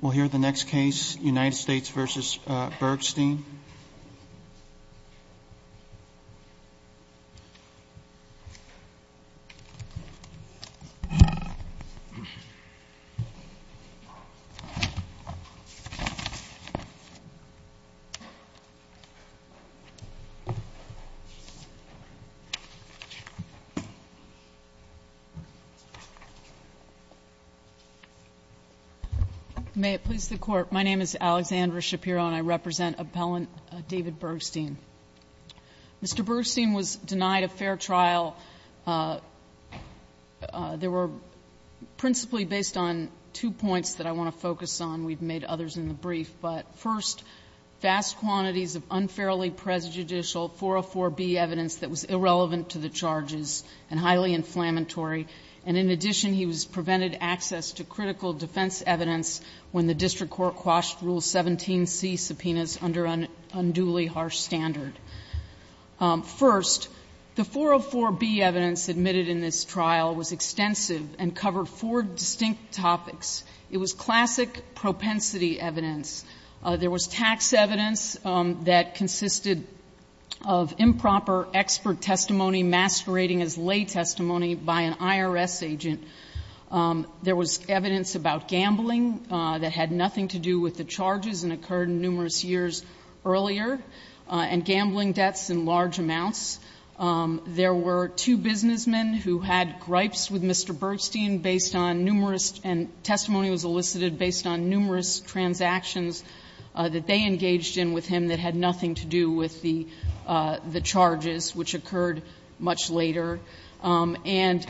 We'll hear the next case, United States v. Bergstein. May it please the Court, my name is Alexandra Shapiro and I represent appellant David Bergstein. Mr. Bergstein was denied a fair trial. There were principally based on two points that I want to focus on, we've made others in the brief, but first, vast quantities of unfairly prejudicial 404B evidence that was irrelevant to the charges and highly inflammatory, and in addition he was prevented access to critical defense evidence when the District Court quashed Rule 17C subpoenas under an unduly harsh standard. First, the 404B evidence admitted in this trial was extensive and covered four distinct topics. It was classic propensity evidence. There was tax evidence that consisted of improper expert testimony masquerading as lay testimony by an IRS agent. There was evidence about gambling that had nothing to do with the charges and occurred in numerous years earlier, and gambling debts in large amounts. There were two businessmen who had gripes with Mr. Bergstein based on numerous and testimony was elicited based on numerous transactions that they engaged in with him that had nothing to do with the charges, which occurred much later. And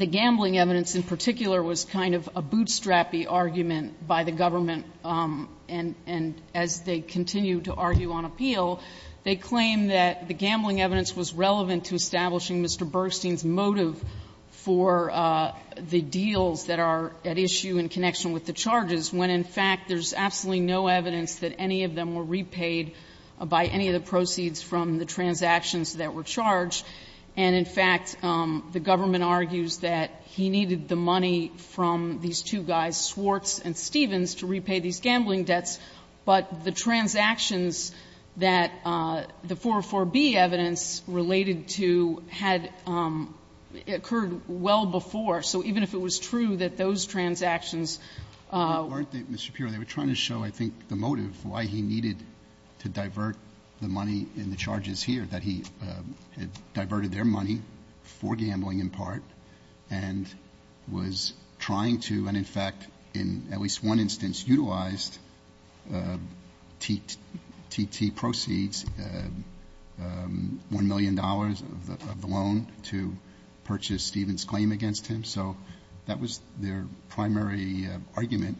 the gambling evidence in particular was kind of a bootstrap-y argument by the government, and as they continue to argue on appeal, they claim that the gambling evidence was relevant to establishing Mr. Bergstein's motive for the deals that are at issue in connection with the charges, when in fact there's absolutely no evidence that any of them were repaid by any of the proceeds from the transactions that were charged. And in fact, the government argues that he needed the money from these two guys, Swartz and Stevens, to repay these gambling debts, but the transactions that the 404B evidence related to had occurred well before, so even if it was true that those transactions weren't there. Mr. Shapiro, they were trying to show, I think, the motive, why he needed to divert the money in the charges here, that he had diverted their money for gambling in part and was trying to, and in fact, in at least one instance, utilized T.T. proceeds, $1 million of the loan to purchase Stevens' claim against him. So that was their primary argument.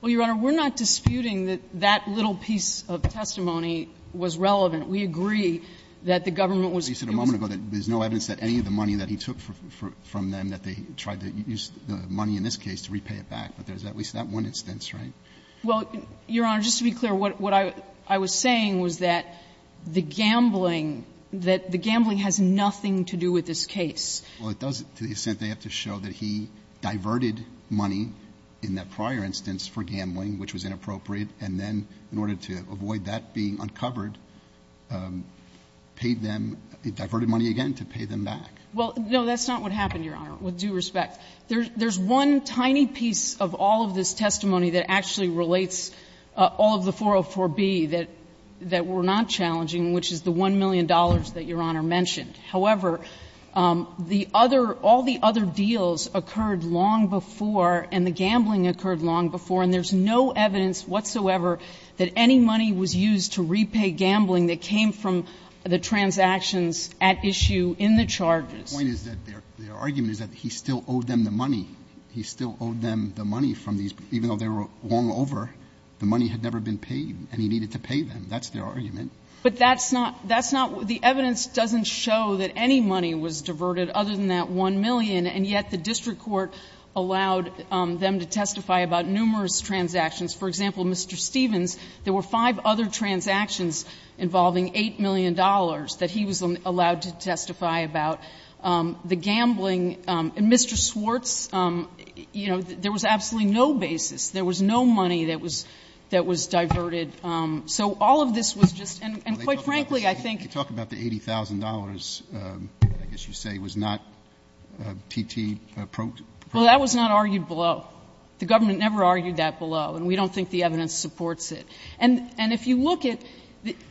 Well, Your Honor, we're not disputing that that little piece of testimony was relevant. We agree that the government was using the money. But you said a moment ago that there's no evidence that any of the money that he took from them, that they tried to use the money in this case to repay it back, but there is at least that one instance, right? Well, Your Honor, just to be clear, what I was saying was that the gambling that the gambling has nothing to do with this case. Well, it does, to the extent they have to show that he diverted money in that prior instance for gambling, which was inappropriate, and then, in order to avoid that being uncovered, paid them, he diverted money again to pay them back. Well, no, that's not what happened, Your Honor, with due respect. There's one tiny piece of all of this testimony that actually relates all of the 404B that we're not challenging, which is the $1 million that Your Honor mentioned. However, the other, all the other deals occurred long before, and the gambling occurred long before, and there's no evidence whatsoever that any money was used to repay gambling that came from the transactions at issue in the charges. The point is that their argument is that he still owed them the money. He still owed them the money from these, even though they were won over, the money had never been paid, and he needed to pay them. That's their argument. But that's not, that's not, the evidence doesn't show that any money was diverted other than that $1 million, and yet the district court allowed them to testify about numerous transactions. For example, Mr. Stevens, there were five other transactions involving $8 million that he was allowed to testify about. The gambling, and Mr. Swartz, you know, there was absolutely no basis. There was no money that was, that was diverted. So all of this was just, and quite frankly, I think. Roberts, you talk about the $80,000, I guess you say, was not T.T. Well, that was not argued below. The government never argued that below, and we don't think the evidence supports it. And if you look at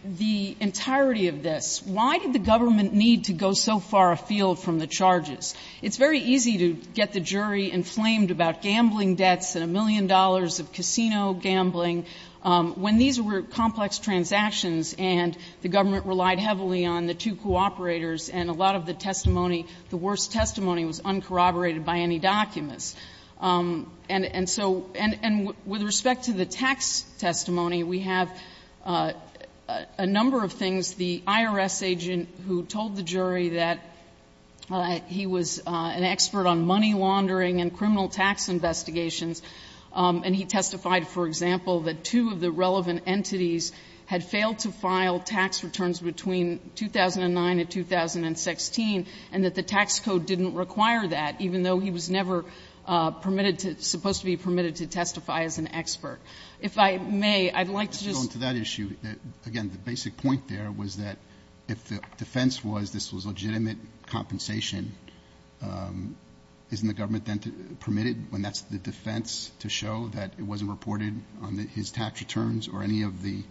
the entirety of this, why did the government need to go so far afield from the charges? It's very easy to get the jury inflamed about gambling debts and $1 million of casino gambling, when these were complex transactions and the government relied heavily on the two cooperators and a lot of the testimony, the worst testimony was uncorroborated by any documents. And so, and with respect to the tax testimony, we have a number of things. The IRS agent who told the jury that he was an expert on money laundering and criminal tax investigations, and he testified, for example, that two of the relevant entities had failed to file tax returns between 2009 and 2016, and that the tax code didn't require that, even though he was never permitted to, supposed to be permitted to testify as an expert. If I may, I'd like to just go into that issue. Again, the basic point there was that if the defense was this was legitimate compensation, isn't the government then permitted, when that's the defense, to show that it wasn't reported on his tax returns or any of the,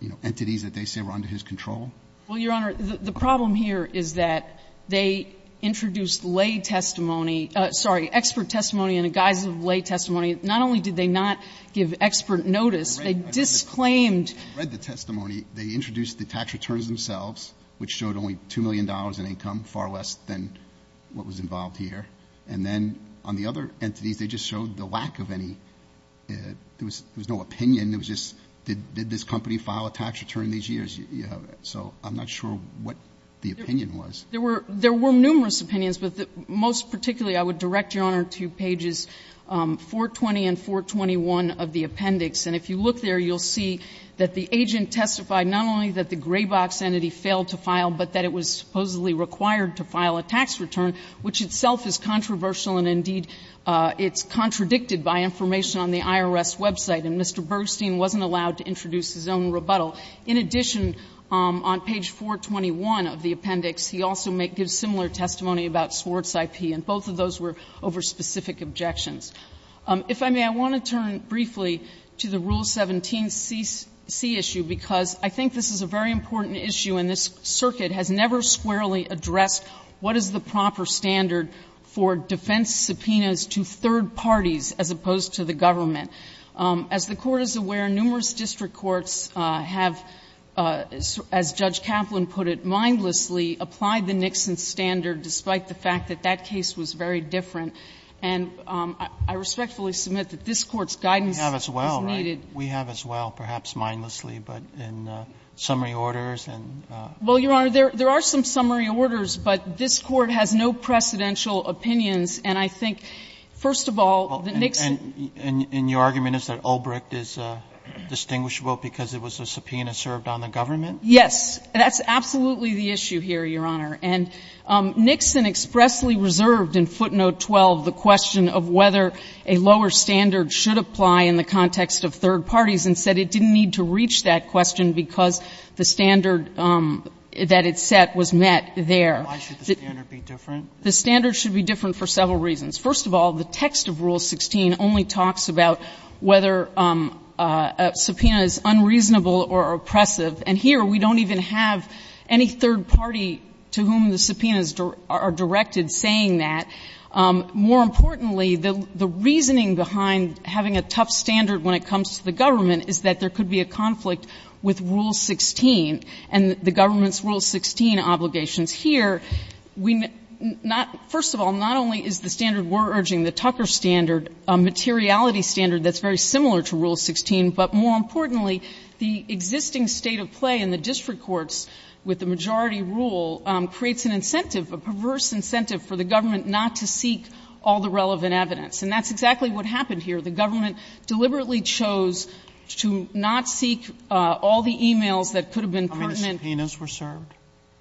you know, entities that they say were under his control? Well, Your Honor, the problem here is that they introduced lay testimony — sorry, expert testimony in the guise of lay testimony. Not only did they not give expert notice, they disclaimed — I read the testimony. They introduced the tax returns themselves, which showed only $2 million in income, far less than what was involved here. And then on the other entities, they just showed the lack of any — there was no opinion. It was just, did this company file a tax return these years? So I'm not sure what the opinion was. There were numerous opinions, but most particularly, I would direct Your Honor to pages 420 and 421 of the appendix. And if you look there, you'll see that the agent testified not only that the Graybox entity failed to file, but that it was supposedly required to file a tax return, which itself is controversial and, indeed, it's contradicted by information on the IRS website. And Mr. Bergstein wasn't allowed to introduce his own rebuttal. In addition, on page 421 of the appendix, he also gives similar testimony about Swartz IP, and both of those were over specific objections. If I may, I want to turn briefly to the Rule 17c issue, because I think this is a very important issue, and this circuit has never squarely addressed what is the proper standard for defense subpoenas to third parties as opposed to the government. As the Court is aware, numerous district courts have, as Judge Kaplan put it, mindlessly applied the Nixon standard, despite the fact that that case was very different. And I respectfully submit that this Court's guidance is needed. We have as well, right? We have as well, perhaps mindlessly, but in summary orders and the other. Well, Your Honor, there are some summary orders, but this Court has no precedential opinions, and I think, first of all, that Nixon. And your argument is that Ulbricht is distinguishable because it was a subpoena served on the government? Yes. That's absolutely the issue here, Your Honor. And Nixon expressly reserved in footnote 12 the question of whether a lower standard should apply in the context of third parties, and said it didn't need to reach that question because the standard that it set was met there. Why should the standard be different? The standard should be different for several reasons. First of all, the text of Rule 16 only talks about whether a subpoena is unreasonable or oppressive. And here we don't even have any third party to whom the subpoenas are directed saying that. More importantly, the reasoning behind having a tough standard when it comes to the government is that there could be a conflict with Rule 16 and the government's Rule 16 obligations. Here, we not — first of all, not only is the standard we're urging, the Tucker standard, a materiality standard that's very similar to Rule 16, but more importantly, the existing state of play in the district courts with the majority rule creates an incentive, a perverse incentive, for the government not to seek all the relevant evidence. And that's exactly what happened here. The government deliberately chose to not seek all the e-mails that could have been pertinent. Roberts. How many subpoenas were served?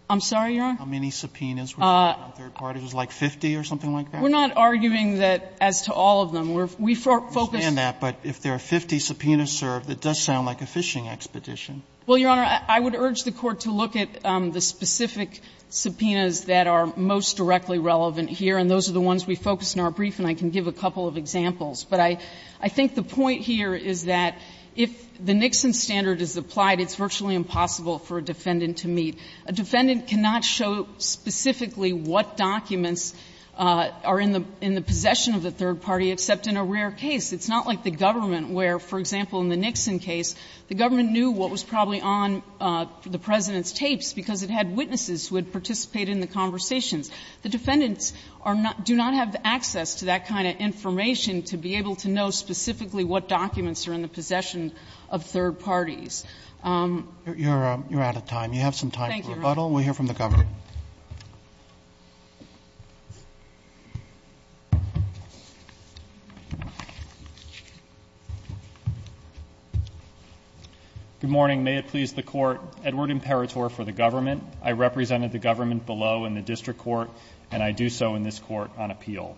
I'm sorry, Your Honor? How many subpoenas were served on third parties? Like 50 or something like that? We're not arguing that as to all of them. We're — we focus — But if there are 50 subpoenas served, it does sound like a phishing expedition. Well, Your Honor, I would urge the Court to look at the specific subpoenas that are most directly relevant here, and those are the ones we focus in our brief, and I can give a couple of examples. But I think the point here is that if the Nixon standard is applied, it's virtually impossible for a defendant to meet. A defendant cannot show specifically what documents are in the — in the possession of the third party, except in a rare case. It's not like the government, where, for example, in the Nixon case, the government knew what was probably on the President's tapes because it had witnesses who had participated in the conversations. The defendants are not — do not have the access to that kind of information to be able to know specifically what documents are in the possession of third parties. You're out of time. You have some time for rebuttal. Thank you, Your Honor. We'll hear from the government. Good morning. May it please the Court, Edward Imperatore for the government, I represented the government below in the District Court, and I do so in this Court on appeal.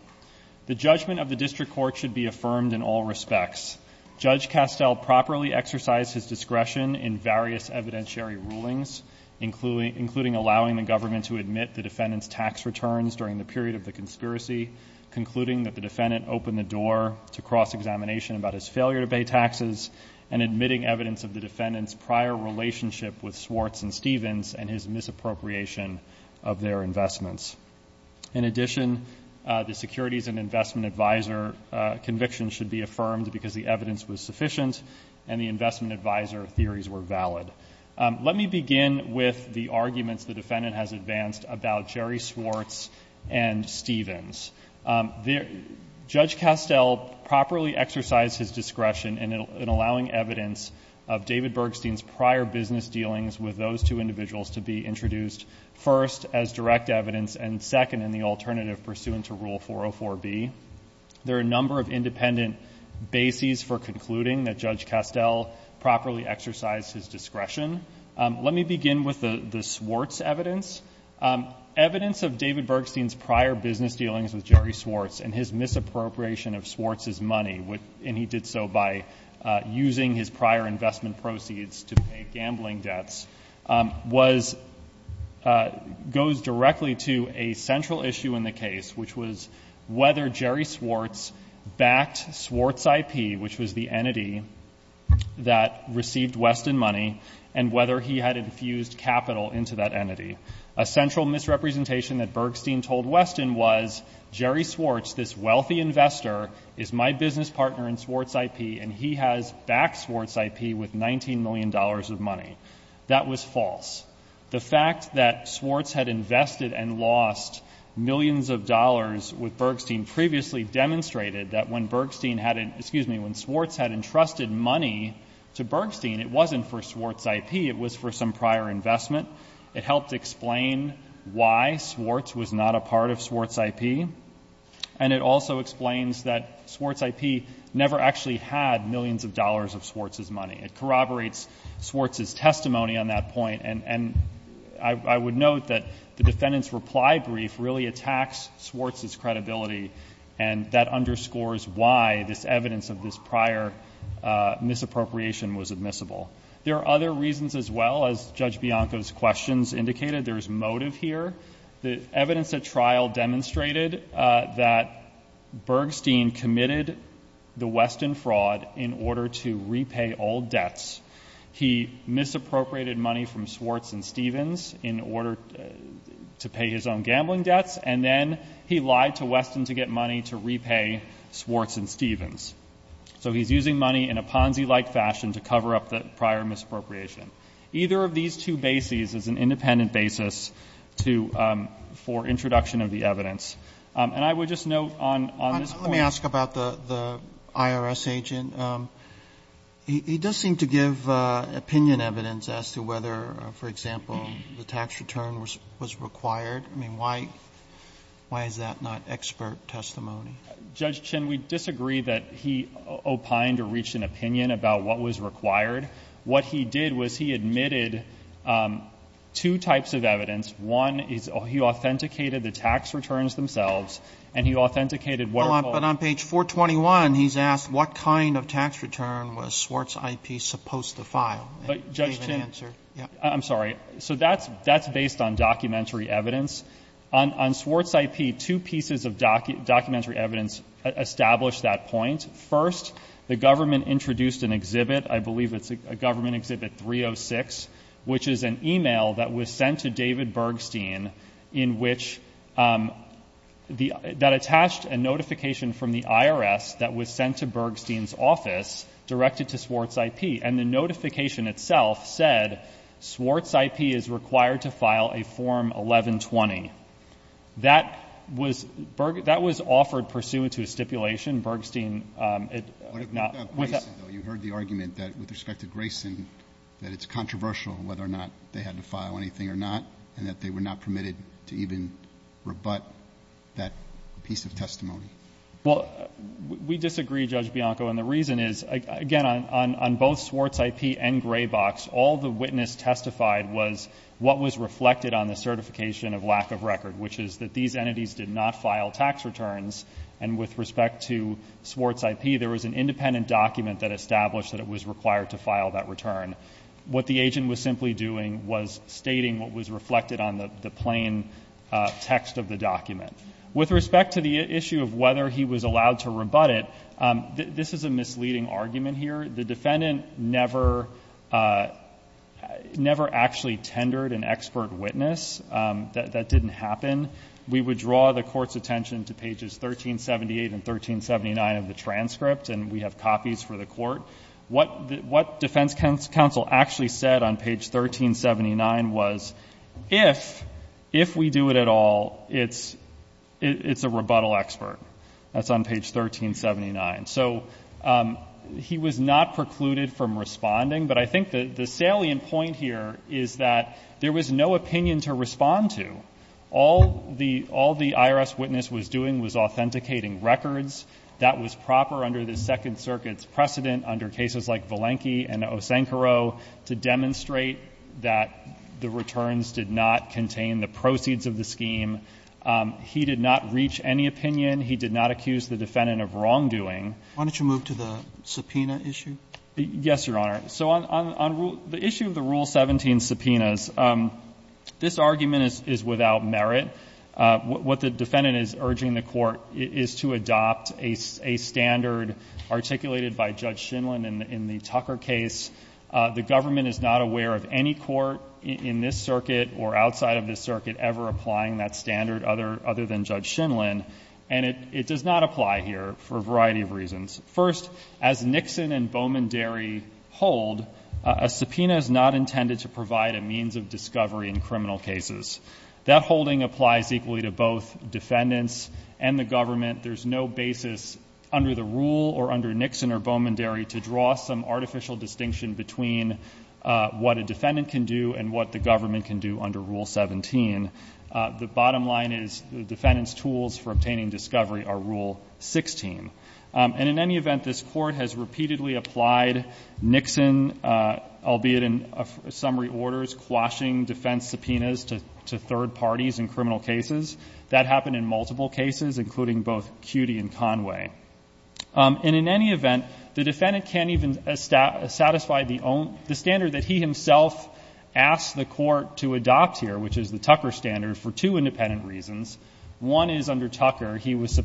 The judgment of the District Court should be affirmed in all respects. Judge Castell properly exercised his discretion in various evidentiary rulings, including allowing the government to admit the defendant's tax returns during the period of the conspiracy, concluding that the defendant opened the door to cross-examination about his failure to pay taxes, and admitting evidence of the defendant's prior relationship with Swartz and Stevens and his misappropriation of their investments. In addition, the Securities and Investment Advisor conviction should be affirmed because the evidence was sufficient and the Investment Advisor theories were valid. Let me begin with the arguments the defendant has advanced about Jerry Swartz and Stevens. Judge Castell properly exercised his discretion in allowing evidence of David Bergstein's prior business dealings with those two individuals to be introduced, first, as direct evidence, and second, in the alternative pursuant to Rule 404B. There are a number of independent bases for his discretion. Let me begin with the Swartz evidence. Evidence of David Bergstein's prior business dealings with Jerry Swartz and his misappropriation of Swartz's money, and he did so by using his prior investment proceeds to pay gambling debts, goes directly to a central issue in the case, which was whether Jerry Swartz backed Swartz IP, which was the entity that received Weston money, and whether he had infused capital into that entity. A central misrepresentation that Bergstein told Weston was, Jerry Swartz, this wealthy investor, is my business partner in Swartz IP, and he has backed Swartz IP with $19 million of money. That was false. The fact that Swartz had invested and lost millions of dollars with Bergstein previously demonstrated that when Bergstein had, excuse me, when Swartz had entrusted money to Bergstein, it wasn't for Swartz IP. It was for some prior investment. It helped explain why Swartz was not a part of Swartz IP. And it also explains that Swartz IP never actually had millions of dollars of Swartz's money. It corroborates Swartz's testimony on that point, and I would note that the defendant's reply brief really attacks Swartz's credibility, and that underscores why this evidence of this prior misappropriation was admissible. There are other reasons as well, as Judge Bianco's questions indicated, there's motive here. The evidence at trial demonstrated that Bergstein committed the Weston fraud in order to repay all debts. He misappropriated money from Swartz and Stevens in order to pay his own gambling debts, and then he lied to Weston to get money to repay Swartz and Stevens. So he's using money in a Ponzi-like fashion to cover up the prior misappropriation. Either of these two bases is an independent basis for introduction of the evidence. And I would just note on this point- Roberts, the IRS agent, he does seem to give opinion evidence as to whether, for example, the tax return was required. I mean, why is that not expert testimony? Judge Chin, we disagree that he opined or reached an opinion about what was required. What he did was he admitted two types of evidence. One is he authenticated the tax returns themselves, and he authenticated what are called- But on page 421, he's asked, what kind of tax return was Swartz IP supposed to file? And he gave an answer. I'm sorry. So that's based on documentary evidence. On Swartz IP, two pieces of documentary evidence establish that point. First, the government introduced an exhibit. I believe it's a government exhibit 306, which is an email that was sent to David Bergstein in which that attached a notification from the IRS that was sent to Bergstein's office directed to Swartz IP. And the notification itself said, Swartz IP is required to file a form 1120. That was offered pursuant to a stipulation. Bergstein- What about Grayson, though? You heard the argument that with respect to Grayson, that it's controversial whether or not they had to file anything or not, and that they were not permitted to even rebut that piece of testimony. Well, we disagree, Judge Bianco. And the reason is, again, on both Swartz IP and Graybox, all the witness testified was what was reflected on the certification of lack of record, which is that these entities did not file tax returns. And with respect to Swartz IP, there was an independent document that established that it was required to file that return. What the agent was simply doing was stating what was reflected on the plain text of the document. With respect to the issue of whether he was allowed to rebut it, this is a misleading argument here. The defendant never actually tendered an expert witness. That didn't happen. We would draw the court's attention to pages 1378 and 1379 of the transcript, and we have copies for the court. What defense counsel actually said on page 1379 was, if we do it at all, it's a rebuttal expert. That's on page 1379. So he was not precluded from responding, but I think the salient point here is that there was no opinion to respond to. All the IRS witness was doing was authenticating records. That was proper under the Second Circuit's precedent under cases like Valenky and Osenkaro to demonstrate that the returns did not contain the proceeds of the scheme. He did not reach any opinion. He did not accuse the defendant of wrongdoing. Why don't you move to the subpoena issue? Yes, Your Honor. So on the issue of the Rule 17 subpoenas, this argument is without merit. What the defendant is urging the court is to adopt a standard articulated by Judge Shinlen in the Tucker case. The government is not aware of any court in this circuit or outside of this circuit ever applying that standard other than Judge Shinlen. And it does not apply here for a variety of reasons. First, as Nixon and Bowman-Derry hold, a subpoena is not intended to provide a means of discovery in criminal cases. That holding applies equally to both defendants and the government. There's no basis under the rule or under Nixon or Bowman-Derry to draw some artificial distinction between what a defendant can do and what the government can do under Rule 17. The bottom line is the defendant's tools for obtaining discovery are Rule 16. And in any event, this court has repeatedly applied Nixon, albeit in summary orders, quashing defense subpoenas to third parties in criminal cases. That happened in multiple cases, including both Cudi and Conway. And in any event, the defendant can't even satisfy the standard that he himself asked the court to adopt here, which is the Tucker standard, for two independent reasons. One is under Tucker, it was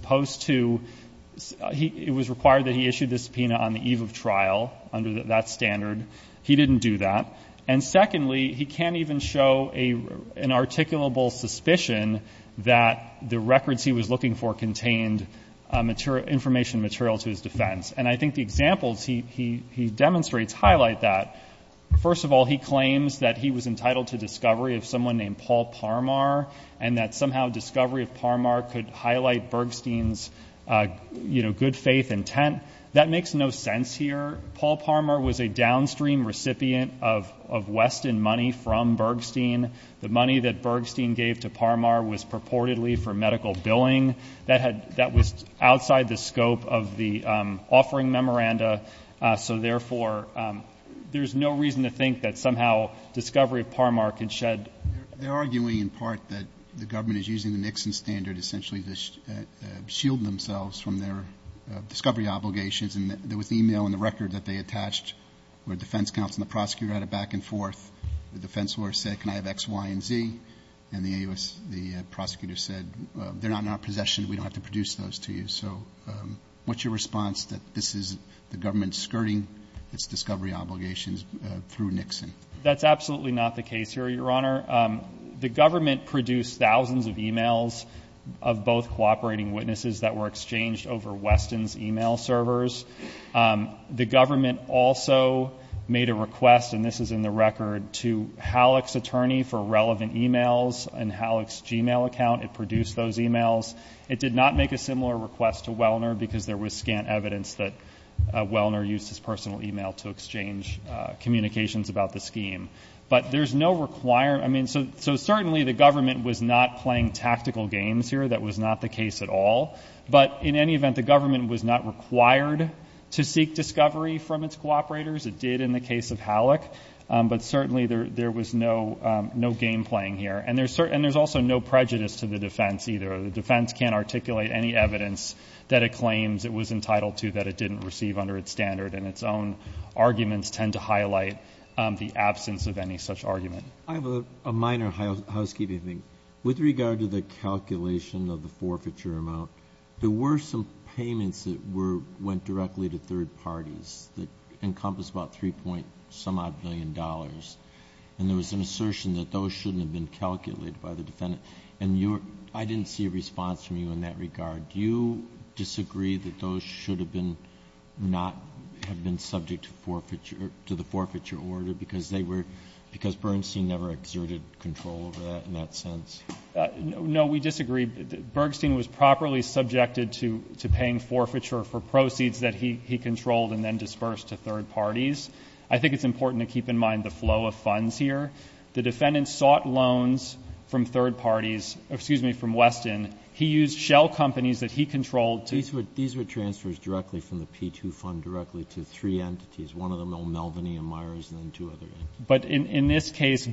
required that he issue this subpoena on the eve of trial, under that standard, he didn't do that. And secondly, he can't even show an articulable suspicion that the records he was looking for contained information material to his defense. And I think the examples he demonstrates highlight that. First of all, he claims that he was entitled to discovery of someone named Paul Parmar, and that somehow discovery of Parmar could highlight Bergstein's good faith intent. That makes no sense here. Paul Parmar was a downstream recipient of Weston money from Bergstein. The money that Bergstein gave to Parmar was purportedly for medical billing. That was outside the scope of the offering memoranda. So therefore, there's no reason to think that somehow discovery of Parmar could shed- They're arguing in part that the government is using the Nixon standard essentially to shield themselves from their discovery obligations. And there was email in the record that they attached where defense counsel and the prosecutor had a back and forth. The defense lawyer said, can I have X, Y, and Z? And the prosecutor said, they're not in our possession. We don't have to produce those to you. So what's your response that this is the government skirting its discovery obligations through Nixon? That's absolutely not the case here, Your Honor. The government produced thousands of emails of both cooperating witnesses that were exchanged over Weston's email servers. The government also made a request, and this is in the record, to Halleck's attorney for relevant emails in Halleck's Gmail account. It produced those emails. It did not make a similar request to Wellner because there was scant evidence that Wellner used his personal email to exchange communications about the scheme. But there's no required, I mean, so certainly the government was not playing tactical games here, that was not the case at all, but in any event, the government was not required to seek discovery from its cooperators, it did in the case of Halleck, but certainly there was no game playing here, and there's also no prejudice to the defense either. The defense can't articulate any evidence that it claims it was entitled to, that it didn't receive under its standard, and its own arguments tend to highlight the absence of any such argument. I have a minor housekeeping thing. With regard to the calculation of the forfeiture amount, there were some payments that went directly to third parties that encompassed about three point some odd billion dollars, and there was an assertion that those shouldn't have been calculated by the defendant. And I didn't see a response from you in that regard. Do you disagree that those should have been, not have been subject to the forfeiture order, because Bernstein never exerted control over that in that sense? No, we disagree. Bergstein was properly subjected to paying forfeiture for proceeds that he controlled and then dispersed to third parties. I think it's important to keep in mind the flow of funds here. The defendant sought loans from third parties, excuse me, from Weston. He used shell companies that he controlled to- These were transfers directly from the P2 fund directly to three entities. One of them, Melvin and Myers, and then two other entities. But in this case,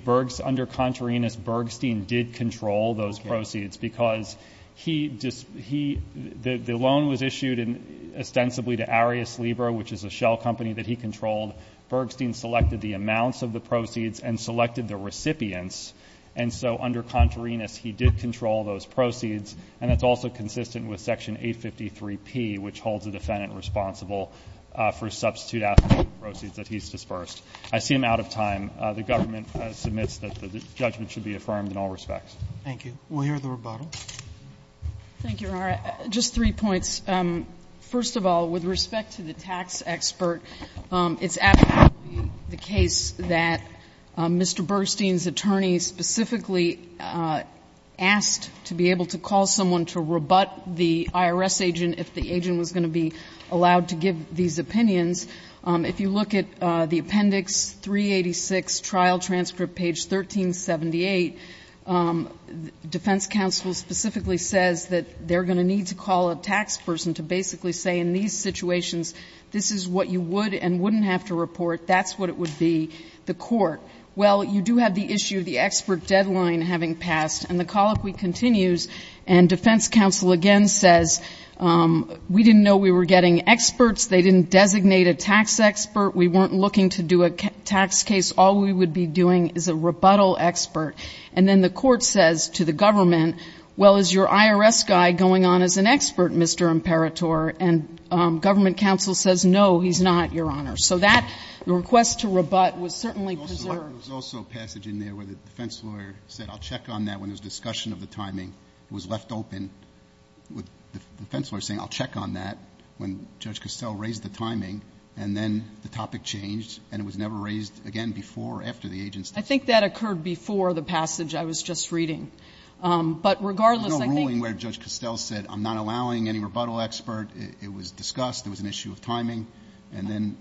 under Contarinas, Bergstein did control those proceeds, because the loan was issued ostensibly to Arius Libra, which is a shell company that he controlled. Bergstein selected the amounts of the proceeds and selected the recipients. And so under Contarinas, he did control those proceeds. And that's also consistent with Section 853P, which holds the defendant responsible for substitute after-profit proceeds that he's dispersed. I see I'm out of time. The government submits that the judgment should be affirmed in all respects. Thank you. We'll hear the rebuttal. Thank you, Your Honor. Just three points. First of all, with respect to the tax expert, it's absolutely the case that Mr. Bergstein's attorney specifically asked to be able to call someone to rebut the IRS agent if the agent was going to be allowed to give these opinions. If you look at the appendix 386, trial transcript page 1378, defense counsel specifically says that they're going to need to call a tax person to basically say, in these situations, this is what you would and wouldn't have to report, that's what it would be. The court, well, you do have the issue of the expert deadline having passed, and the colloquy continues. And defense counsel again says, we didn't know we were getting experts, they didn't designate a tax expert, we weren't looking to do a tax case, all we would be doing is a rebuttal expert. And then the court says to the government, well, is your IRS guy going on as an expert, Mr. Imperator? And government counsel says, no, he's not, Your Honor. So that request to rebut was certainly preserved. There was also a passage in there where the defense lawyer said, I'll check on that when there's discussion of the timing. It was left open with the defense lawyer saying, I'll check on that when Judge Costell raised the timing. And then the topic changed, and it was never raised again before or after the agent's- I think that occurred before the passage I was just reading. But regardless, I think- There's no ruling where Judge Costell said, I'm not allowing any rebuttal expert. It was discussed, there was an issue of timing, and then-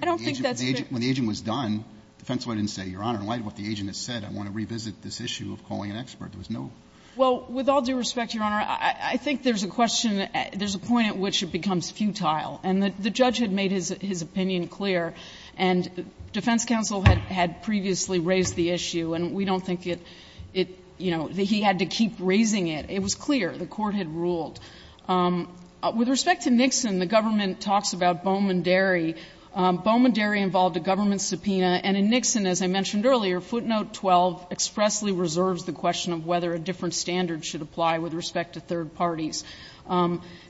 I don't think that's fair- When the agent was done, the defense lawyer didn't say, Your Honor, in light of what the agent has said, I want to revisit this issue of calling an expert. There was no- Well, with all due respect, Your Honor, I think there's a question, there's a point at which it becomes futile. And the judge had made his opinion clear, and defense counsel had previously raised the issue, and we don't think it, you know, he had to keep raising it. It was clear. The court had ruled. With respect to Nixon, the government talks about Bowman-Derry. Bowman-Derry involved a government subpoena, and in Nixon, as I mentioned earlier, footnote 12 expressly reserves the question of whether a different standard should apply with respect to third parties.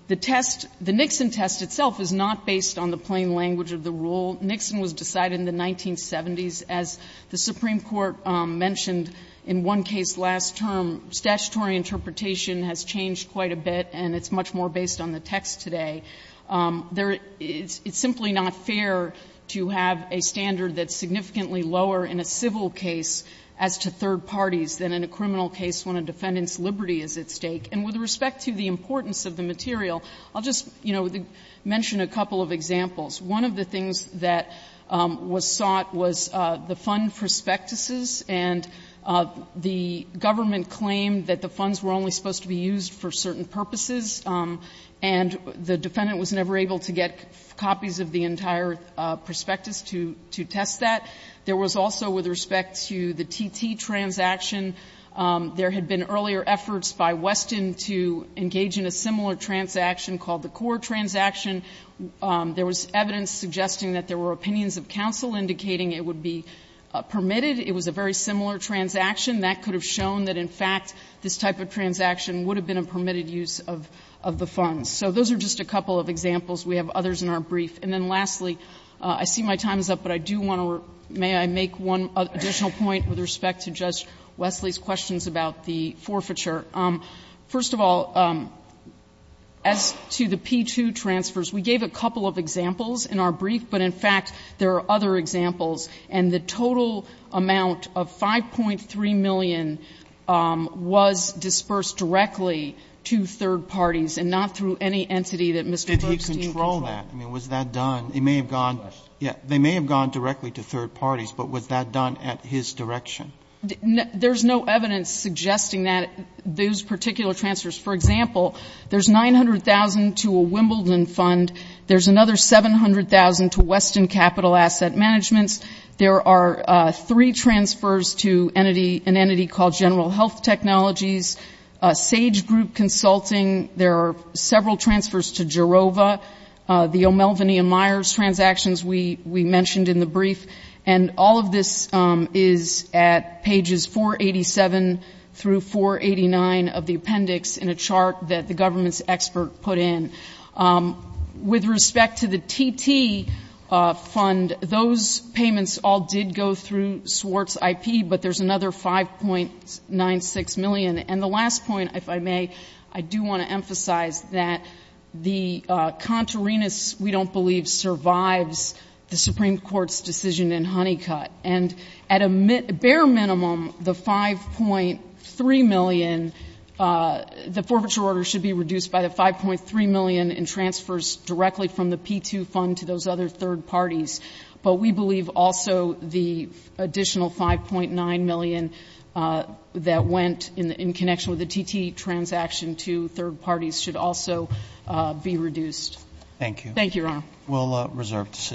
The test, the Nixon test itself, is not based on the plain language of the rule. Nixon was decided in the 1970s. As the Supreme Court mentioned in one case last term, statutory interpretation has changed quite a bit, and it's much more based on the text today. It's simply not fair to have a standard that's significantly lower in a civil case as to third parties than in a criminal case when a defendant's liberty is at stake. And with respect to the importance of the material, I'll just, you know, mention a couple of examples. One of the things that was sought was the fund prospectuses, and the government claimed that the funds were only supposed to be used for certain purposes, and the defendant was never able to get copies of the entire prospectus to test that. There was also, with respect to the T.T. transaction, there had been earlier efforts by Weston to engage in a similar transaction called the core transaction. There was evidence suggesting that there were opinions of counsel indicating it would be permitted. It was a very similar transaction. That could have shown that, in fact, this type of transaction would have been a permitted use of the funds. So those are just a couple of examples. We have others in our brief. And then lastly, I see my time is up, but I do want to may I make one additional point with respect to Judge Wesley's questions about the forfeiture. First of all, as to the P-2 transfers, we gave a couple of examples in our brief, but in fact there are other examples. And the total amount of $5.3 million was disbursed directly to third parties and not through any entity that Mr. Bergstein controlled. Roberts, I mean, was that done? It may have gone to third parties, but was that done at his direction? There's no evidence suggesting that those particular transfers. For example, there's $900,000 to a Wimbledon fund. There's another $700,000 to Weston Capital Asset Managements. There are three transfers to an entity called General Health Technologies, Sage Group Consulting. There are several transfers to Jerova, the O'Melveny and Myers transactions we mentioned in the brief. And all of this is at pages 487 through 489 of the appendix in a chart that the government's expert put in. With respect to the TT fund, those payments all did go through Swartz IP, but there's another $5.96 million. And the last point, if I may, I do want to emphasize that the contrariness, we don't believe, survives the Supreme Court's decision in Honeycutt. And at a bare minimum, the $5.3 million, the forfeiture order should be reduced by the $5.3 million in transfers directly from the P-2 fund to those other third parties. But we believe also the additional $5.9 million that went in connection with the TT transaction to third parties should also be reduced. Thank you. Thank you, Your Honor. We'll reserve decision.